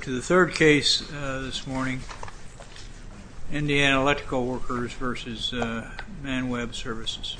To the third case this morning, Indiana Electrical Workers v. Manweb Services.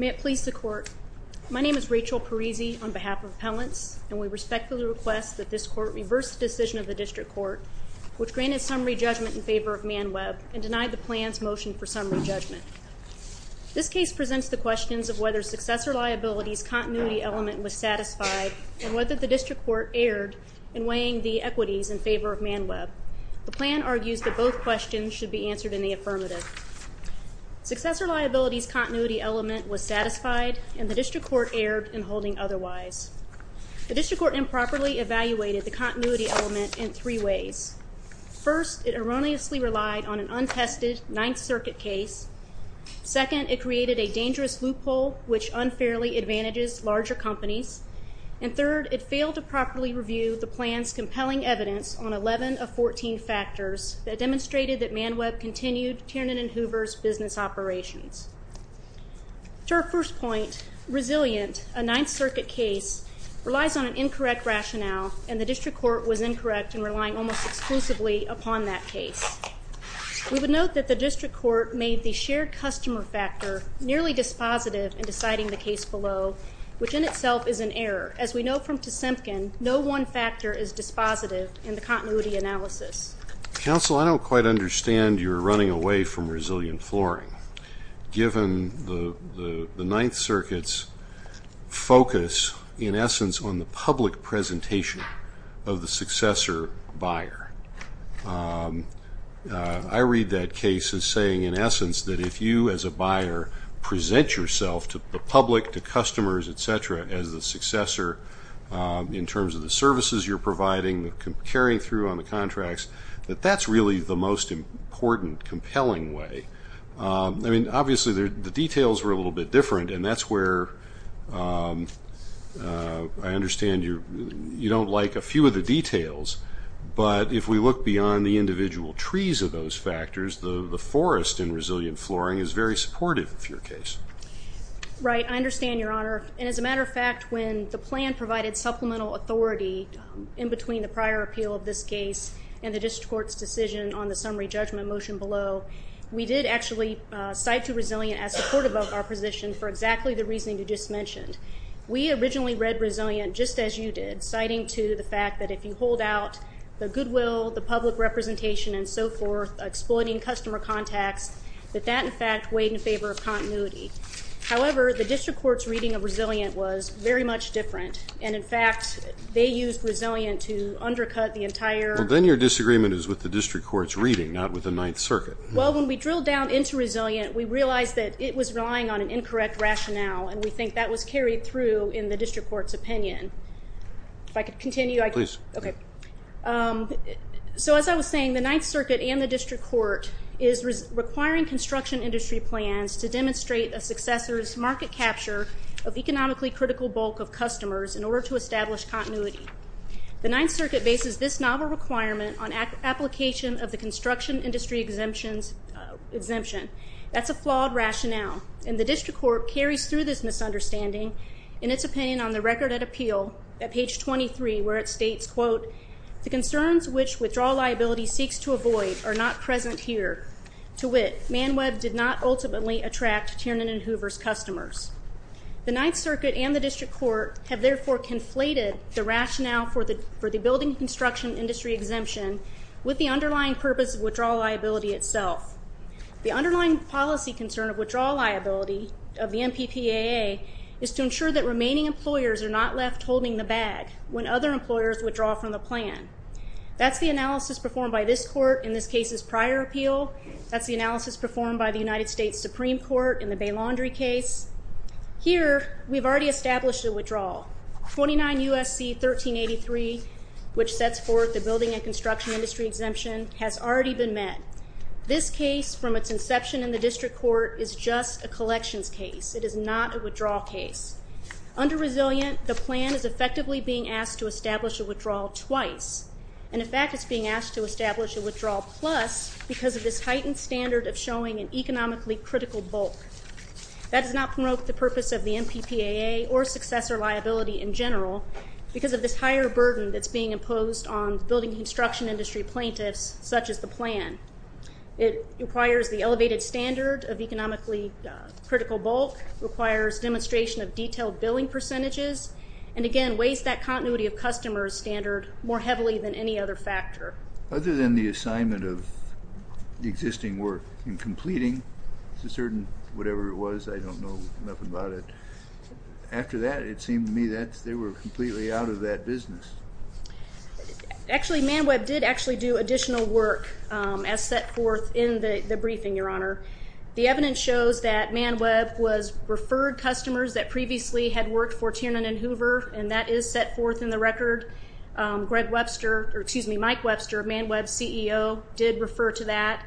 May it please the Court, my name is Rachel Parisi on behalf of Appellants and we respectfully request that this Court reverse the decision of the District Court which granted summary judgment in favor of Manweb and denied the plan's motion for summary judgment. This case presents the questions of whether Successor Liability's continuity element was satisfied and whether the District Court erred in weighing the equities in favor of Manweb. The plan argues that both questions should be answered in the affirmative. Successor Liability's continuity element was satisfied and the District Court erred in holding otherwise. The District Court improperly evaluated the continuity element in three ways. First, it erroneously relied on an untested Ninth Circuit case. Second, it created a dangerous loophole which unfairly advantages larger companies. And third, it failed to properly review the plan's compelling evidence on 11 of 14 factors that demonstrated that Manweb continued Tiernan and Hoover's business operations. To our first point, resilient, a Ninth Circuit case relies on an incorrect rationale and the District Court was incorrect in relying almost exclusively upon that case. We would note that the District Court made the shared customer factor nearly dispositive in deciding the case below, which in itself is an error. As we know from Tsemkin, no one factor is dispositive in the continuity analysis. Counsel, I don't quite understand your running away from resilient flooring, given the Ninth Circuit's focus in essence on the public presentation of the successor buyer. I read that case as saying in essence that if you as a buyer present yourself to the public, to customers, et cetera, as the successor in terms of the services you're providing, carrying through on the contracts, that that's really the most important, compelling way. I mean, obviously the details were a little bit different and that's where I understand you don't like a few of the details, but if we look beyond the individual trees of those factors, the forest in resilient flooring is very supportive of your case. Right. I understand, Your Honor. And as a matter of fact, when the plan provided supplemental authority in between the prior appeal of this case and the District Court's decision on the summary judgment motion below, we did actually cite to resilient as supportive of our position for exactly the reasoning you just mentioned. We originally read resilient just as you did, citing to the fact that if you hold out the goodwill, the public representation, and so forth, exploiting customer contacts, that that in fact weighed in favor of continuity. However, the District Court's reading of resilient was very much different. And in fact, they used resilient to undercut the entire... Well, then your disagreement is with the District Court's reading, not with the Ninth Circuit. Well, when we drilled down into resilient, we realized that it was relying on an incorrect rationale, and we think that was carried through in the District Court's opinion. If I could continue... Please. Okay. So as I was saying, the Ninth Circuit and the District Court is requiring construction industry plans to demonstrate a successor's market capture of economically critical bulk of customers in order to establish continuity. The Ninth Circuit bases this novel requirement on application of the construction industry exemption. That's a flawed rationale, and the District Court carries through this misunderstanding in its opinion on the record at appeal at page 23 where it states, quote, the concerns which withdrawal liability seeks to avoid are not present here. To wit, ManWeb did not ultimately attract Tiernan and Hoover's customers. The Ninth Circuit and the District Court have therefore conflated the rationale for the building construction industry exemption with the underlying purpose of withdrawal liability itself. The underlying policy concern of withdrawal liability of the MPPAA is to ensure that remaining employers are not left holding the bag when other employers withdraw from the plan. That's the analysis performed by this court in this case's prior appeal. That's the analysis performed by the United States Supreme Court in the Bay Laundry case. Here, we've already established a withdrawal. 29 U.S.C. 1383, which sets forth the building and construction industry exemption, has already been met. This case, from its inception in the District Court, is just a collections case. It is not a withdrawal case. Under resilient, the plan is effectively being asked to establish a withdrawal plus because of this heightened standard of showing an economically critical bulk. That does not promote the purpose of the MPPAA or successor liability in general because of this higher burden that's being imposed on building and construction industry plaintiffs, such as the plan. It requires the elevated standard of economically critical bulk, requires demonstration of detailed billing percentages, and again, makes that continuity of customers standard more heavily than any other factor. Other than the assignment of existing work in completing a certain, whatever it was, I don't know nothing about it. After that, it seemed to me that they were completely out of that business. Actually, ManWeb did actually do additional work as set forth in the briefing, Your Honor. The evidence shows that ManWeb was referred customers that previously had worked for Tiernan and Hoover, and that is set forth in the record. Greg Webster, or excuse me, Mike Webster, ManWeb's CEO, did refer to that.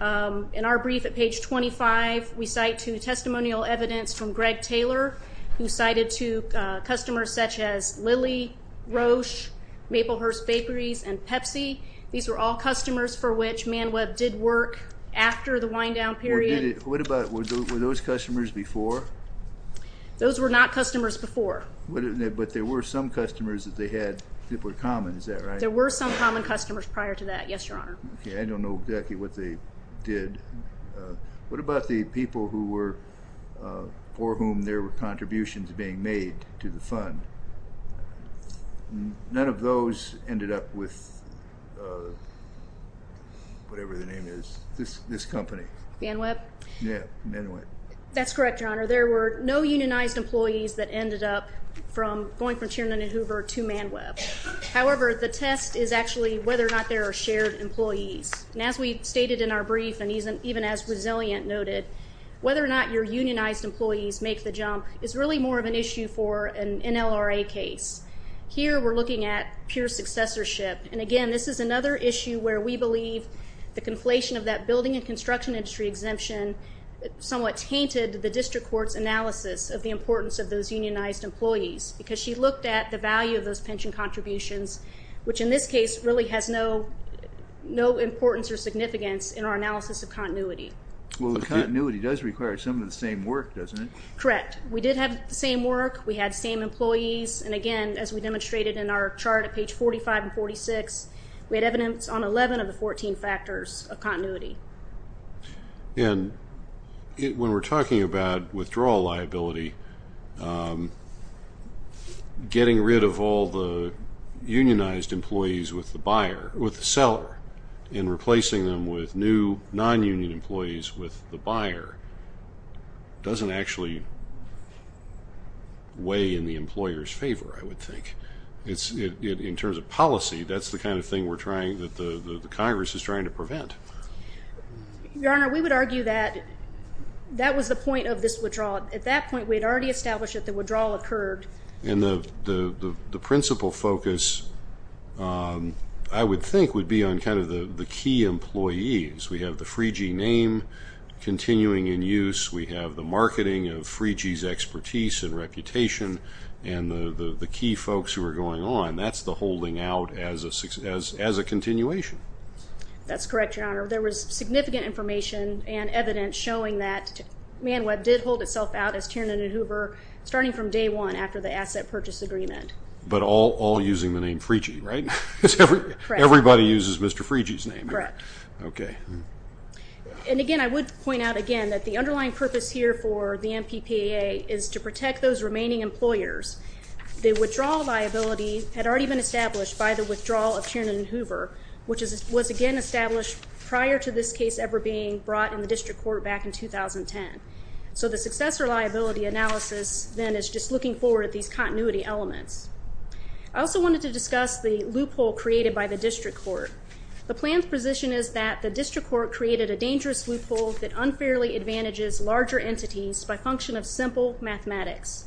In our brief at page 25, we cite to testimonial evidence from Greg Taylor, who cited to customers such as Lilly, Roche, Maplehurst Bakeries, and Pepsi. These were all customers for which ManWeb did work after the wind-down period. Were those customers before? Those were not customers before. But there were some customers that they had that were common, is that right? There were some common customers prior to that, yes, Your Honor. I don't know exactly what they did. What about the people for whom there were contributions being made to the fund? None of those ended up with whatever the name is, this company. ManWeb? Yeah, ManWeb. That's correct, Your Honor. There were no unionized employees that ended up going from Tiernan and Hoover to ManWeb. However, the test is actually whether or not there are shared employees. And as we stated in our brief, and even as Resilient noted, whether or not your unionized employees make the jump is really more of an issue for an NLRA case. Here we're looking at pure successorship. And again, this is another issue where we believe the conflation of that building and construction industry exemption somewhat tainted the district court's analysis of the importance of those unionized employees, because she looked at the value of those pension contributions, which in this case really has no importance or does it? Correct. We did have the same work. We had the same employees. And again, as we demonstrated in our chart at page 45 and 46, we had evidence on 11 of the 14 factors of continuity. And when we're talking about withdrawal liability, getting rid of all the unionized employees with the buyer, with the seller, and replacing them with new non-union employees with the buyer doesn't actually weigh in the employer's favor, I would think. In terms of policy, that's the kind of thing that the Congress is trying to prevent. Your Honor, we would argue that that was the point of this withdrawal. At that point, we had already established that the withdrawal occurred. And the principal focus I would think would be on kind of the key employees. We have the Freegee name continuing in use. We have the marketing of Freegee's expertise and reputation and the key folks who are going on. That's the holding out as a continuation. That's correct, Your Honor. There was significant information and evidence showing that ManWeb did hold itself out as Tiernan and Hoover starting from day one after the asset purchase agreement. But all using the name Freegee, right? Everybody uses Mr. Freegee's name. Correct. Okay. And again, I would point out again that the underlying purpose here for the MPPAA is to protect those remaining employers. The withdrawal liability had already been established by the withdrawal of Tiernan and Hoover, which was again established prior to this case ever being brought in the district court back in 2010. So the successor liability analysis then is just looking forward at these continuity elements. I also wanted to discuss the loophole created by the district court. The plan's position is that the district court created a dangerous loophole that unfairly advantages larger entities by function of simple mathematics.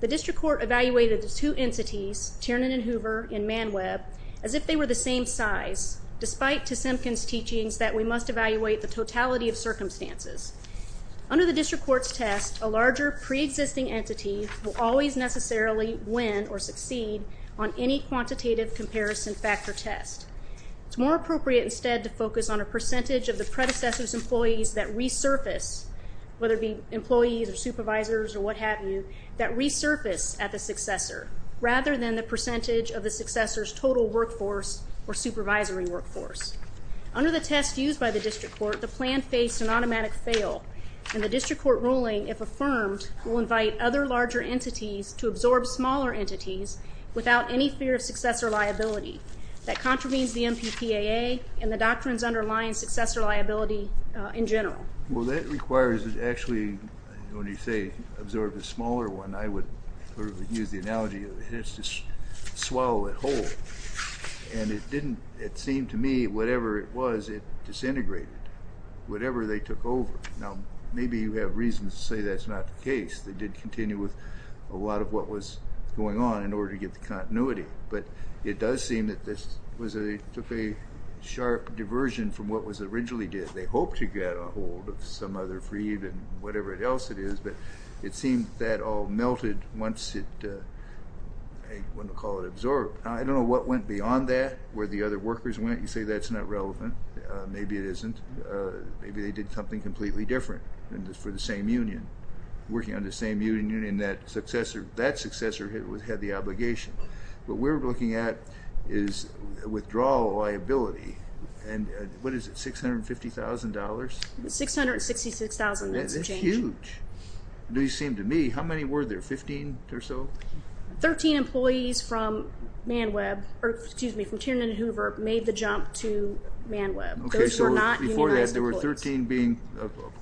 The district court evaluated the two entities, Tiernan and Hoover, in ManWeb as if they were the same size, despite to Simpkin's teachings that we must evaluate the totality of circumstances. Under the district court's test, a larger pre-existing entity will always necessarily win or succeed on any quantitative comparison factor test. It's more appropriate instead to focus on a percentage of the predecessor's employees that resurface, whether it be employees or supervisors or what have you, that resurface at the successor, rather than the percentage of the successor's total workforce or supervisory workforce. Under the test used by the district court, the plan faced an automatic fail, and the district court ruling, if affirmed, will invite other larger entities to absorb smaller entities without any fear of successor liability. That contravenes the MPPAA and the doctrines underlying successor liability in general. Well, that requires, actually, when you say absorb a smaller one, I would use the analogy of just swallow it whole, and it didn't, it seemed to me, whatever it was, it disintegrated. Whatever they took over. Now, maybe you have reasons to say that's not the case. They did continue with a lot of what was going on in order to get the continuity, but it does seem that this took a sharp diversion from what was originally did. They hoped to get a hold of some other freed and whatever else it is, but it seemed that all melted once it, I wouldn't call it absorbed. I don't know what went beyond that, where the other workers went. You say that's not relevant. Maybe it isn't. Maybe they did something completely different for the same union. Working on the same union, that successor had the obligation. What we're looking at is withdrawal liability, and what is it, $650,000? $666,000. That's a change. That's huge. It seemed to me, how many were there, 15 or so? 13 employees from Man Web, excuse me, from Tiernan and Hoover made the jump to Man Web. Those were not unionized employees. There were 13 being,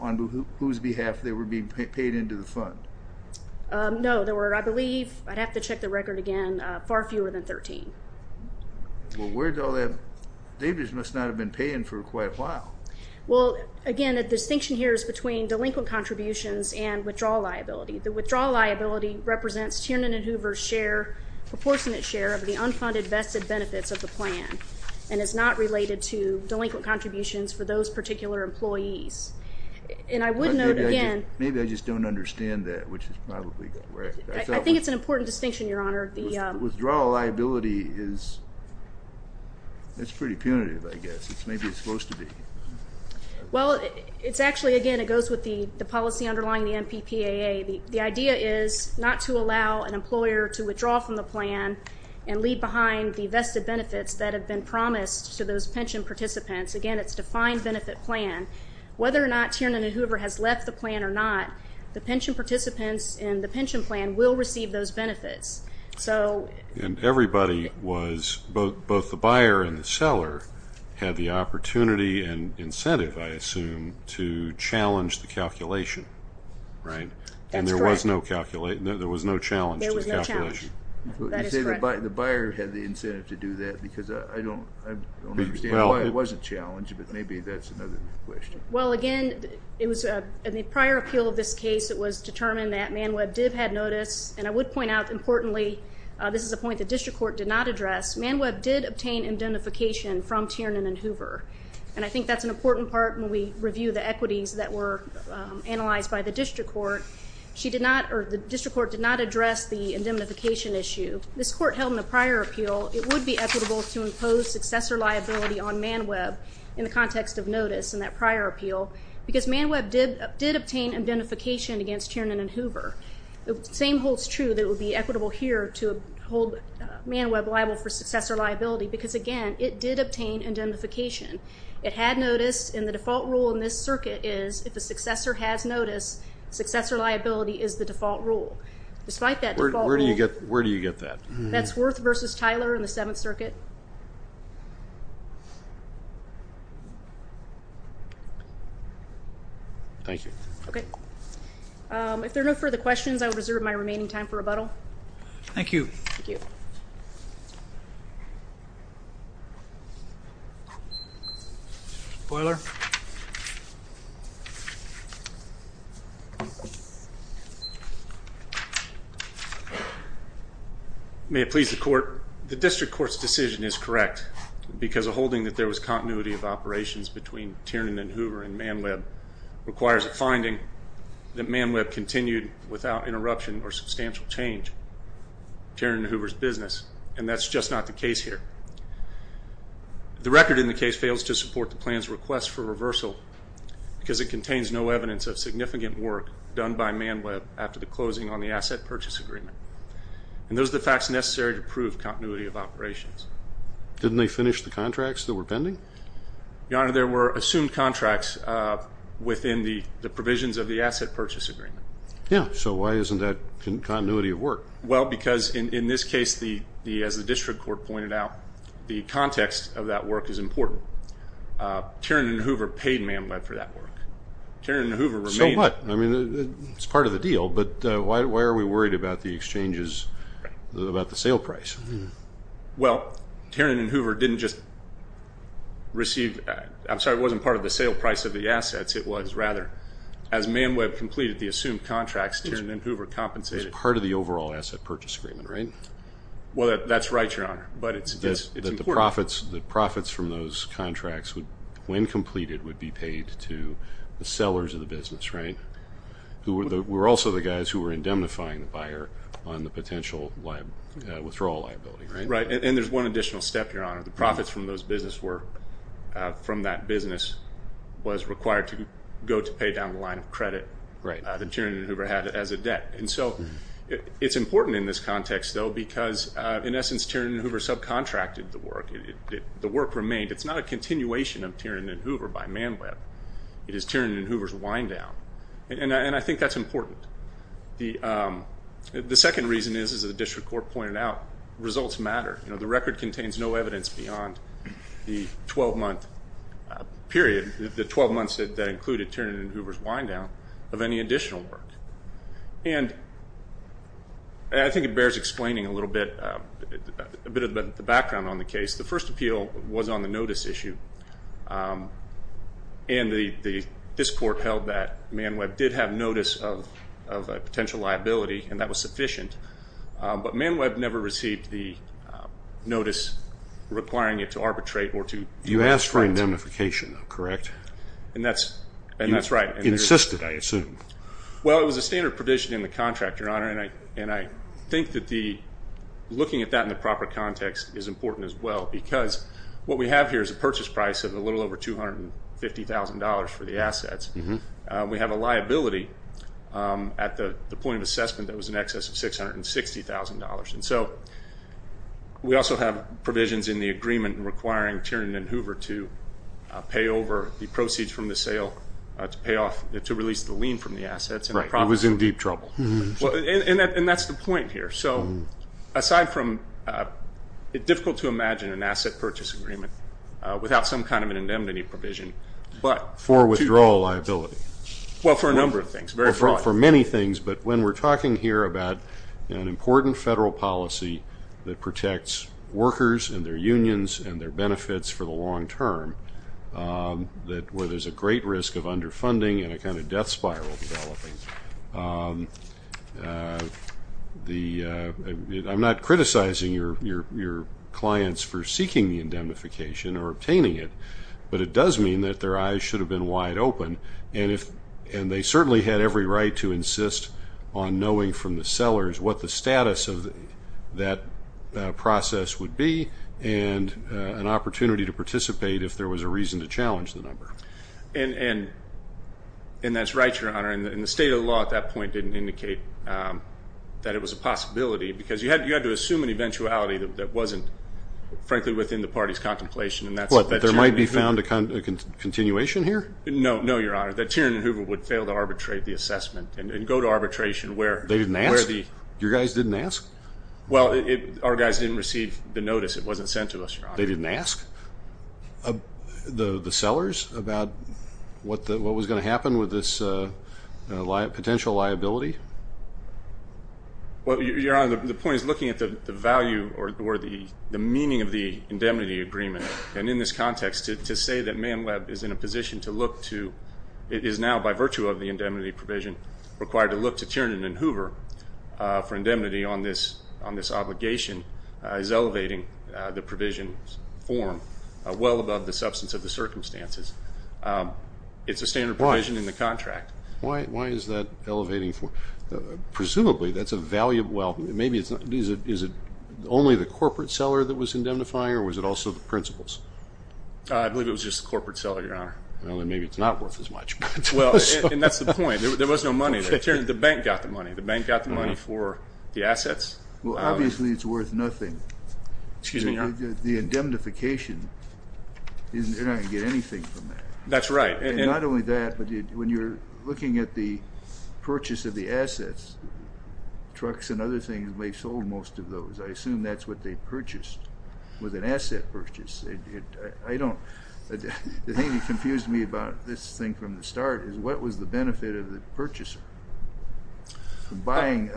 on whose behalf they were being paid into the fund? No, there were, I believe, I'd have to check the record again, far fewer than 13. Well, where'd all that, they just must not have been paying for quite a while. Well, again, the distinction here is between delinquent contributions and withdrawal liability. The withdrawal liability represents Tiernan and Hoover's share, proportionate share of the unfunded vested benefits of the plan, and is not related to delinquent contributions for those particular employees. And I would note again. Maybe I just don't understand that, which is probably correct. I think it's an important distinction, Your Honor. Withdrawal liability is, it's pretty punitive, I guess. Maybe it's supposed to be. Well, it's actually, again, it goes with the policy underlying the MPPAA. The idea is not to allow an employer to withdraw from the plan and leave behind the vested benefits that have been promised to those pension participants. Again, it's a defined benefit plan. Whether or not Tiernan and Hoover has left the plan or not, the pension participants in the pension plan will receive those benefits. And everybody was, both the buyer and the seller, had the opportunity and incentive, I assume, to challenge the calculation, right? That's correct. And there was no challenge to the calculation. That is correct. You say the buyer had the incentive to do that, because I don't understand why it wasn't challenged, but maybe that's another question. Well, again, in the prior appeal of this case, it was determined that ManWeb did have notice, and I would point out, importantly, this is a point the district court did not address, ManWeb did not review the equities that were analyzed by the district court. The district court did not address the indemnification issue. This court held in the prior appeal it would be equitable to impose successor liability on ManWeb in the context of notice in that prior appeal, because ManWeb did obtain indemnification against Tiernan and Hoover. The same holds true that it would be equitable here to hold ManWeb liable for successor liability, because, again, it did obtain indemnification. It had notice, and the default rule in this circuit is if a successor has notice, successor liability is the default rule. Despite that default rule... Where do you get that? That's Worth versus Tyler in the Seventh Circuit. Thank you. Okay. If there are no further questions, I will reserve my remaining time for rebuttal. Thank you. The district court's decision is correct, because a holding that there was continuity of operations between Tiernan and Hoover and ManWeb requires a finding that ManWeb continued without interruption or substantial change, Tiernan and Hoover's business, and that's just not the case here. The record in the case fails to support the plan's request for reversal, because it contains no evidence of significant work done by ManWeb after the closing on the asset purchase agreement. And those are the facts necessary to prove continuity of operations. Didn't they finish the contracts that were pending? Your Honor, there were So why isn't that continuity of work? Well, because in this case, as the district court pointed out, the context of that work is important. Tiernan and Hoover paid ManWeb for that work. So what? I mean, it's part of the deal, but why are we worried about the exchanges, about the sale price? Well, Tiernan and Hoover didn't just receive, I'm sorry, it wasn't part of the Tiernan and Hoover compensated. It was part of the overall asset purchase agreement, right? Well, that's right, Your Honor, but it's important. That the profits from those contracts, when completed, would be paid to the sellers of the business, right? Who were also the guys who were indemnifying the buyer on the potential withdrawal liability, right? Right, and there's one additional step, Your Honor. The profits from that business was required to go to pay down the line of credit that Tiernan and Hoover had as a debt, and so it's important in this context, though, because in essence, Tiernan and Hoover subcontracted the work. The work remained. It's not a continuation of Tiernan and Hoover by ManWeb. It is Tiernan and Hoover's wind down, and I think that's important. The second reason is, as the district court pointed out, results matter. The record contains no evidence beyond the 12-month period, the 12 months that included Tiernan and Hoover's wind down, of any additional work. And I think it bears explaining a little bit of the background on the case. The first appeal was on the notice issue, and this court held that ManWeb did have notice of a potential liability, and that was sufficient, but ManWeb never received the notice requiring it to arbitrate or to do anything. You asked for indemnification, correct? And that's right. You insisted, I assume. Well, it was a standard provision in the contract, Your Honor, and I think that looking at that in the proper context is important as well because what we have here is a purchase price of a little over $250,000 for the assets. We have a liability at the point of assessment that was in excess of $660,000. And so we also have provisions in the agreement requiring Tiernan and Hoover to pay over the proceeds from the sale to pay off, to release the lien from the assets. Right. It was in deep trouble. And that's the point here. Aside from it's difficult to imagine an asset purchase agreement without some kind of an indemnity provision, but two things. For withdrawal liability. Well, for a number of things, very broad. For many things, but when we're talking here about an important federal policy that protects workers and their unions and their benefits for the long term, where there's a great risk of underfunding and a kind of death spiral developing, I'm not criticizing your clients for seeking the indemnification or obtaining it, but it does mean that their eyes should have been wide open and they certainly had every right to insist on knowing from the sellers what the status of that process would be and an opportunity to participate if there was a reason to challenge the number. And that's right, Your Honor. And the state of the law at that point didn't indicate that it was a possibility because you had to assume an eventuality that wasn't, frankly, within the party's contemplation. What, that there might be found a continuation here? No, Your Honor, that Tiernan and Hoover would fail to arbitrate the assessment and go to arbitration where... about what was going to happen with this potential liability? Well, Your Honor, the point is looking at the value or the meaning of the indemnity agreement and in this context to say that Man Web is in a position to look to, it is now by virtue of the indemnity provision required to look to Tiernan and Hoover for indemnity on this obligation is elevating the provision's form well above the substance of the circumstances. It's a standard provision in the contract. Why is that elevating the form? Presumably that's a valuable, well, maybe it's not. Is it only the corporate seller that was indemnifying or was it also the principals? Well, and that's the point. There was no money. The bank got the money. The bank got the money for the assets. Well, obviously it's worth nothing. The indemnification, you're not going to get anything from that. That's right. And not only that, but when you're looking at the purchase of the assets, trucks and other things may have sold most of those. I assume that's what they purchased with an asset purchase. The thing that confused me about this thing from the start is what was the benefit of the purchaser from buying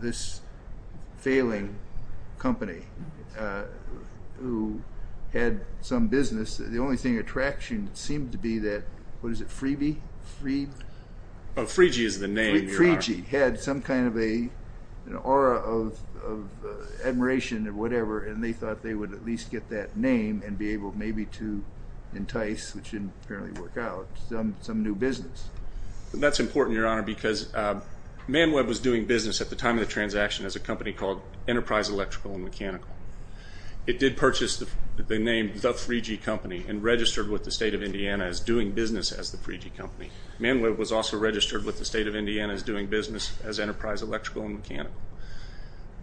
this failing company who had some business? The only thing of attraction seemed to be that, what is it, Freebie? Freegie is the name, Your Honor. Freegie had some kind of an aura of admiration or whatever, and they thought they would at least get that name and be able maybe to entice, which didn't apparently work out, some new business. That's important, Your Honor, because ManWeb was doing business at the time of the transaction as a company called Enterprise Electrical and Mechanical. It did purchase the name The Freegie Company and registered with the State of Indiana as doing business as The Freegie Company. ManWeb was also registered with the State of Indiana as doing business as Enterprise Electrical and Mechanical.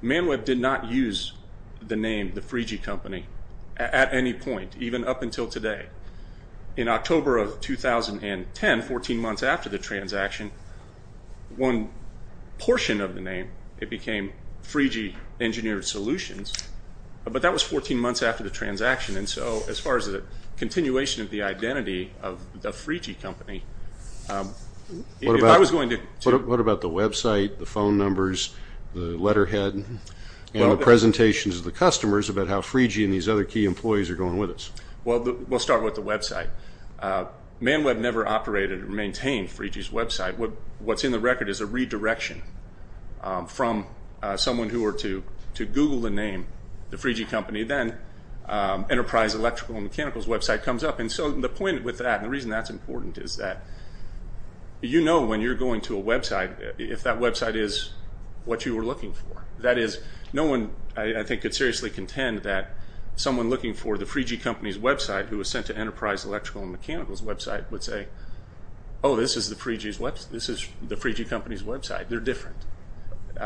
ManWeb did not use the name The Freegie Company at any point, even up until today. In October of 2010, 14 months after the transaction, one portion of the name, it became Freegie Engineered Solutions, but that was 14 months after the transaction. As far as the continuation of the identity of The Freegie Company, if I was going to... What about the website, the phone numbers, the letterhead, and the presentations of the customers about how Freegie and these other key employees are going with us? We'll start with the website. ManWeb never operated or maintained Freegie's website. What's in the record is a redirection from someone who were to Google the name The Freegie Company, then Enterprise Electrical and Mechanical's website comes up. The point with that, and the reason that's important, is that you know when you're going to a website if that website is what you were looking for. That is, no one, I think, could seriously contend that someone looking for The Freegie Company's website, who was sent to Enterprise Electrical and Mechanical's website, would say, oh, this is The Freegie Company's website. They're different.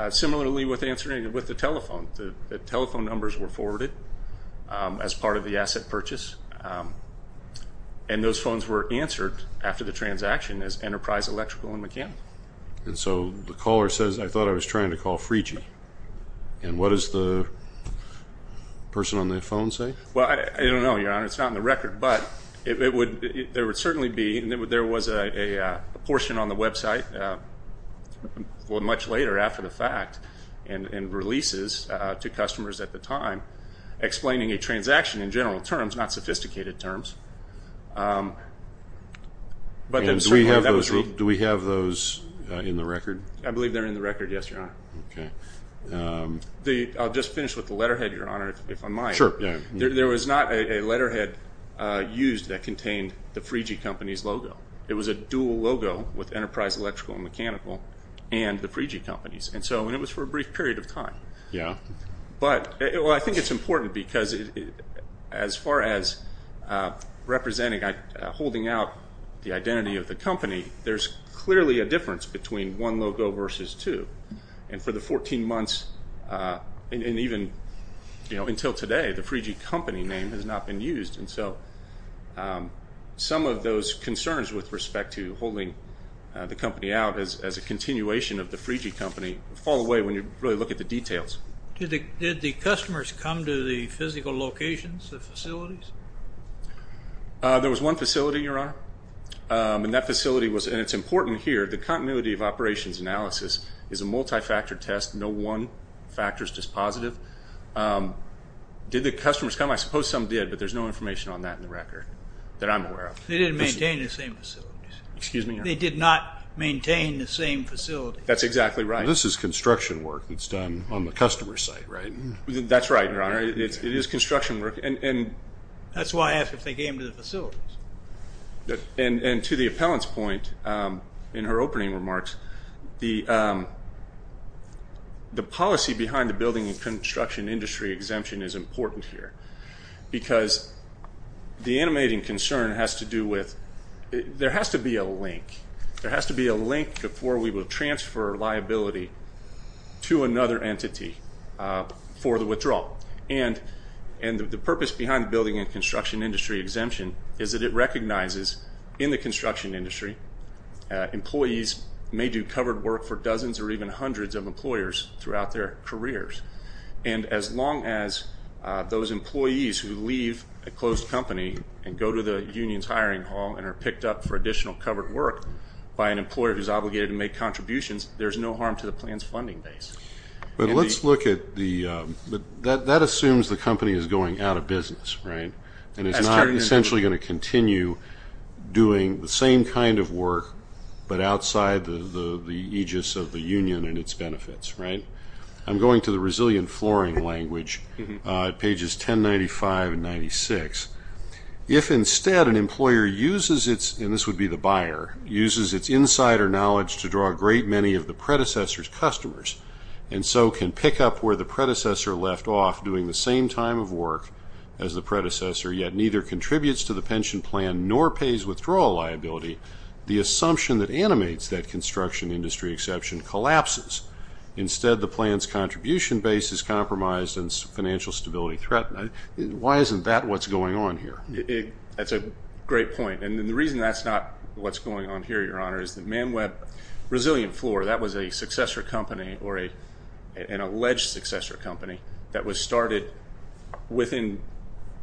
Similarly with the telephone. The telephone numbers were forwarded as part of the asset purchase. And those phones were answered after the transaction as Enterprise Electrical and Mechanical. And so the caller says, I thought I was trying to call Freegie. And what does the person on the phone say? Well, I don't know, Your Honor. It's not in the record, but there would certainly be, there was a portion on the website, well much later after the fact, and a transaction in general terms, not sophisticated terms. Do we have those in the record? I believe they're in the record, yes, Your Honor. I'll just finish with the letterhead, Your Honor, if I might. There was not a letterhead used that contained The Freegie Company's logo. It was a dual logo with Enterprise Electrical and Mechanical and The Freegie Company's. And it was for a brief period of time. Well, I think it's important because as far as representing, holding out the identity of the company, there's clearly a difference between one logo versus two. And for the 14 months, and even until today, the Freegie Company name has not been used. And so some of those concerns with respect to holding the company out as a continuation of The Freegie Company fall away when you really look at the details. Did the customers come to the physical locations, the facilities? There was one facility, Your Honor, and that facility was, and it's important here, the continuity of operations analysis is a multifactor test. No one factor is dispositive. Did the customers come? I suppose some did, but there's no information on that in the record that I'm aware of. They didn't maintain the same facilities. Excuse me, Your Honor? They did not maintain the same facilities. That's exactly right. This is construction work that's done on the customer site, right? That's right, Your Honor. It is construction work. That's why I asked if they came to the facilities. And to the appellant's point in her opening remarks, the policy behind the building and construction industry exemption is important here because the animating concern has to do with, there has to be a link. There has to be a link before we will transfer liability to another entity for the withdrawal. And the purpose behind the building and construction industry exemption is that it recognizes in the construction industry employees may do covered work for dozens or even hundreds of employers throughout their careers. And as long as those employees who leave a closed company and go to the union's hiring hall and are picked up for additional covered work by an employer who's obligated to make contributions, there's no harm to the plan's funding base. But let's look at the, that assumes the company is going out of business, right? And it's not essentially going to continue doing the same kind of work but outside the aegis of the union and its benefits, right? I'm going to the resilient flooring language, pages 1095 and 96. If instead an employer uses its, and this would be the buyer, uses its insider knowledge to draw a great many of the predecessor's customers and so can pick up where the predecessor left off doing the same time of work as the predecessor yet neither contributes to the pension plan nor pays withdrawal liability, the assumption that animates that construction industry exception collapses. Instead the plan's contribution base is compromised and financial stability threatened. Why isn't that what's going on here? That's a great point. And the reason that's not what's going on here, Your Honor, is that ManWeb Resilient Floor, that was a successor company or an alleged successor company that was started within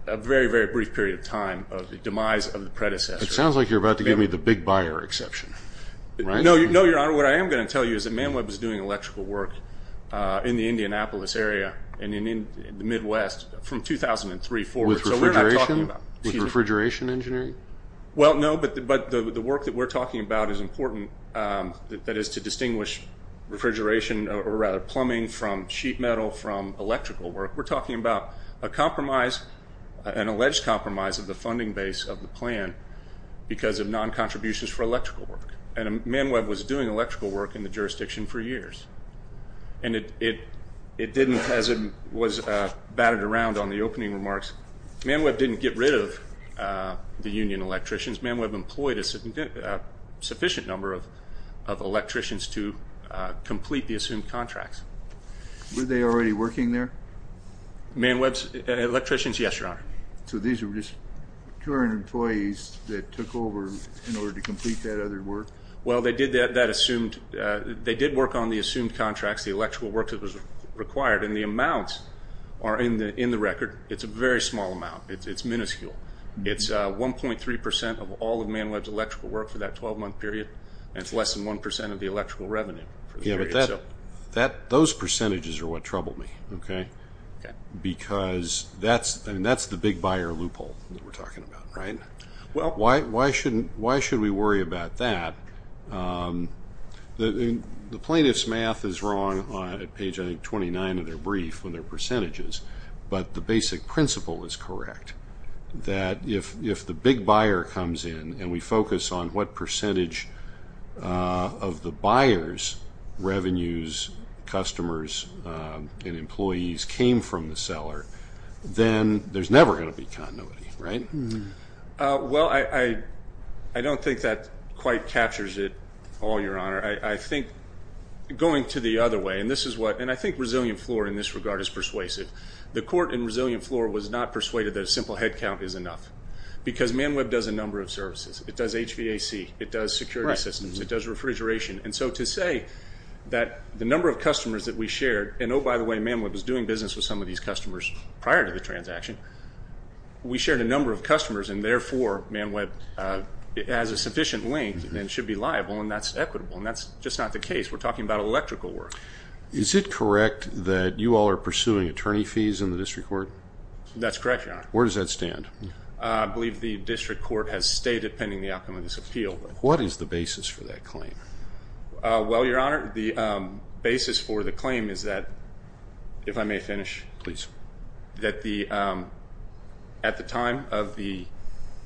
a very, very brief period of time of the demise of the predecessor. It sounds like you're about to give me the big buyer exception. No, Your Honor. What I am going to tell you is that ManWeb was doing electrical work in the Indianapolis area and in the Midwest from 2003 forward. With refrigeration engineering? Well, no, but the work that we're talking about is important. That is to distinguish refrigeration or rather plumbing from sheet metal from electrical work. We're talking about a compromise, an alleged compromise of the funding base of the plan because of non-contributions for electrical work. And ManWeb was doing electrical work in the jurisdiction for years. And it didn't, as it was batted around on the opening remarks, ManWeb didn't get rid of the union electricians. ManWeb employed a sufficient number of electricians to complete the assumed contracts. Were they already working there? ManWeb's electricians? Yes, Your Honor. So these were just current employees that took over in order to complete that other work? Well, they did that assumed, they did work on the assumed contracts, the electrical work that was required, and the amounts are in the record. It's a very small amount. It's minuscule. It's 1.3% of all of ManWeb's electrical work for that 12-month period, and it's less than 1% of the electrical revenue for the period. Yeah, but those percentages are what trouble me, okay, because that's the big buyer loophole that we're talking about, right? Why should we worry about that? The plaintiff's math is wrong on page, I think, 29 of their brief when they're percentages, but the basic principle is correct, that if the big buyer comes in and we focus on what percentage of the buyer's revenues, customers, and employees came from the seller, then there's never going to be continuity, right? Well, I don't think that quite captures it all, Your Honor. I think going to the other way, and I think Resilient Floor in this regard is persuasive. The court in Resilient Floor was not persuaded that a simple head count is enough because ManWeb does a number of services. It does HVAC. It does security systems. It does refrigeration. And so to say that the number of customers that we shared, and, oh, by the way, ManWeb was doing business with some of these customers prior to the transaction. We shared a number of customers, and therefore ManWeb has a sufficient length and should be liable, and that's equitable, and that's just not the case. We're talking about electrical work. Is it correct that you all are pursuing attorney fees in the district court? That's correct, Your Honor. Where does that stand? I believe the district court has stayed, depending on the outcome of this appeal. What is the basis for that claim? Well, Your Honor, the basis for the claim is that, if I may finish. Please. That at the time of the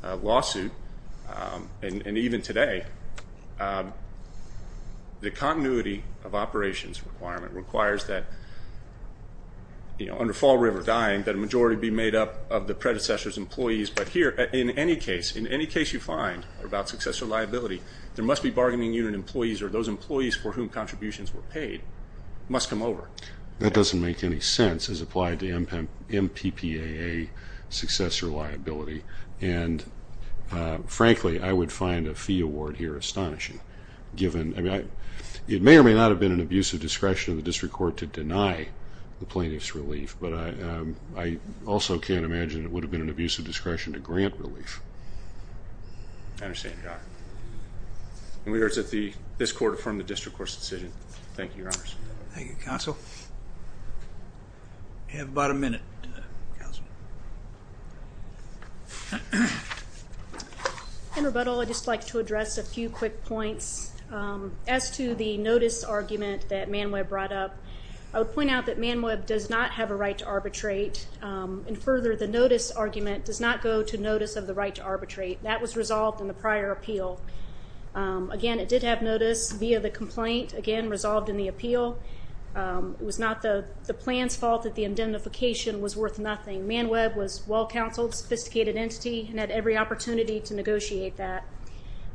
lawsuit, and even today, the continuity of operations requirement requires that, you know, under Fall River Dying that a majority be made up of the predecessor's employees. But here, in any case, in any case you find about success or liability, there must be bargaining unit employees or those employees for whom contributions were paid must come over. That doesn't make any sense as applied to MPPAA success or liability. And, frankly, I would find a fee award here astonishing. I mean, it may or may not have been an abusive discretion of the district court to deny the plaintiff's relief, but I also can't imagine it would have been an abusive discretion to grant relief. I understand, Your Honor. And we urge that this court affirm the district court's decision. Thank you, Your Honors. Thank you, Counsel. You have about a minute, Counsel. In rebuttal, I'd just like to address a few quick points. As to the notice argument that ManWeb brought up, I would point out that ManWeb does not have a right to arbitrate. And further, the notice argument does not go to notice of the right to arbitrate. That was resolved in the prior appeal. Again, it did have notice via the complaint, again, resolved in the appeal. It was not the plan's fault that the indemnification was worth nothing. ManWeb was well-counseled, sophisticated entity, and had every opportunity to negotiate that.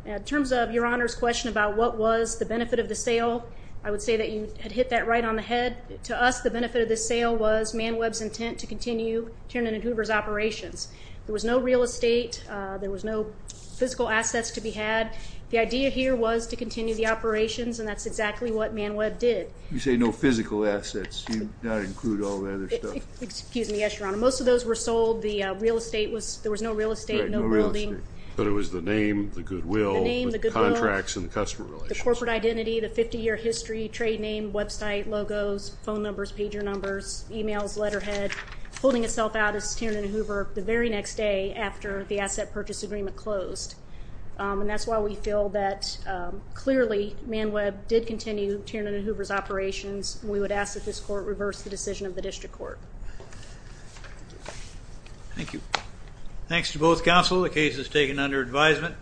In terms of Your Honor's question about what was the benefit of the sale, I would say that you had hit that right on the head. To us, the benefit of the sale was ManWeb's intent to continue Tiernan and Hoover's operations. There was no real estate. There was no physical assets to be had. The idea here was to continue the operations, and that's exactly what ManWeb did. You say no physical assets. You don't include all the other stuff. Excuse me, yes, Your Honor. Most of those were sold. The real estate was – there was no real estate, no building. Right, no real estate. But it was the name, the goodwill, the contracts, and the customer relations. The name, the goodwill, the corporate identity, the 50-year history, trade name, website, logos, phone numbers, pager numbers, e-mails, letterhead. Holding itself out is Tiernan and Hoover the very next day after the asset purchase agreement closed. And that's why we feel that clearly ManWeb did continue Tiernan and Hoover's operations. We would ask that this court reverse the decision of the district court. Thank you. Thanks to both counsel. The case is taken under advisement.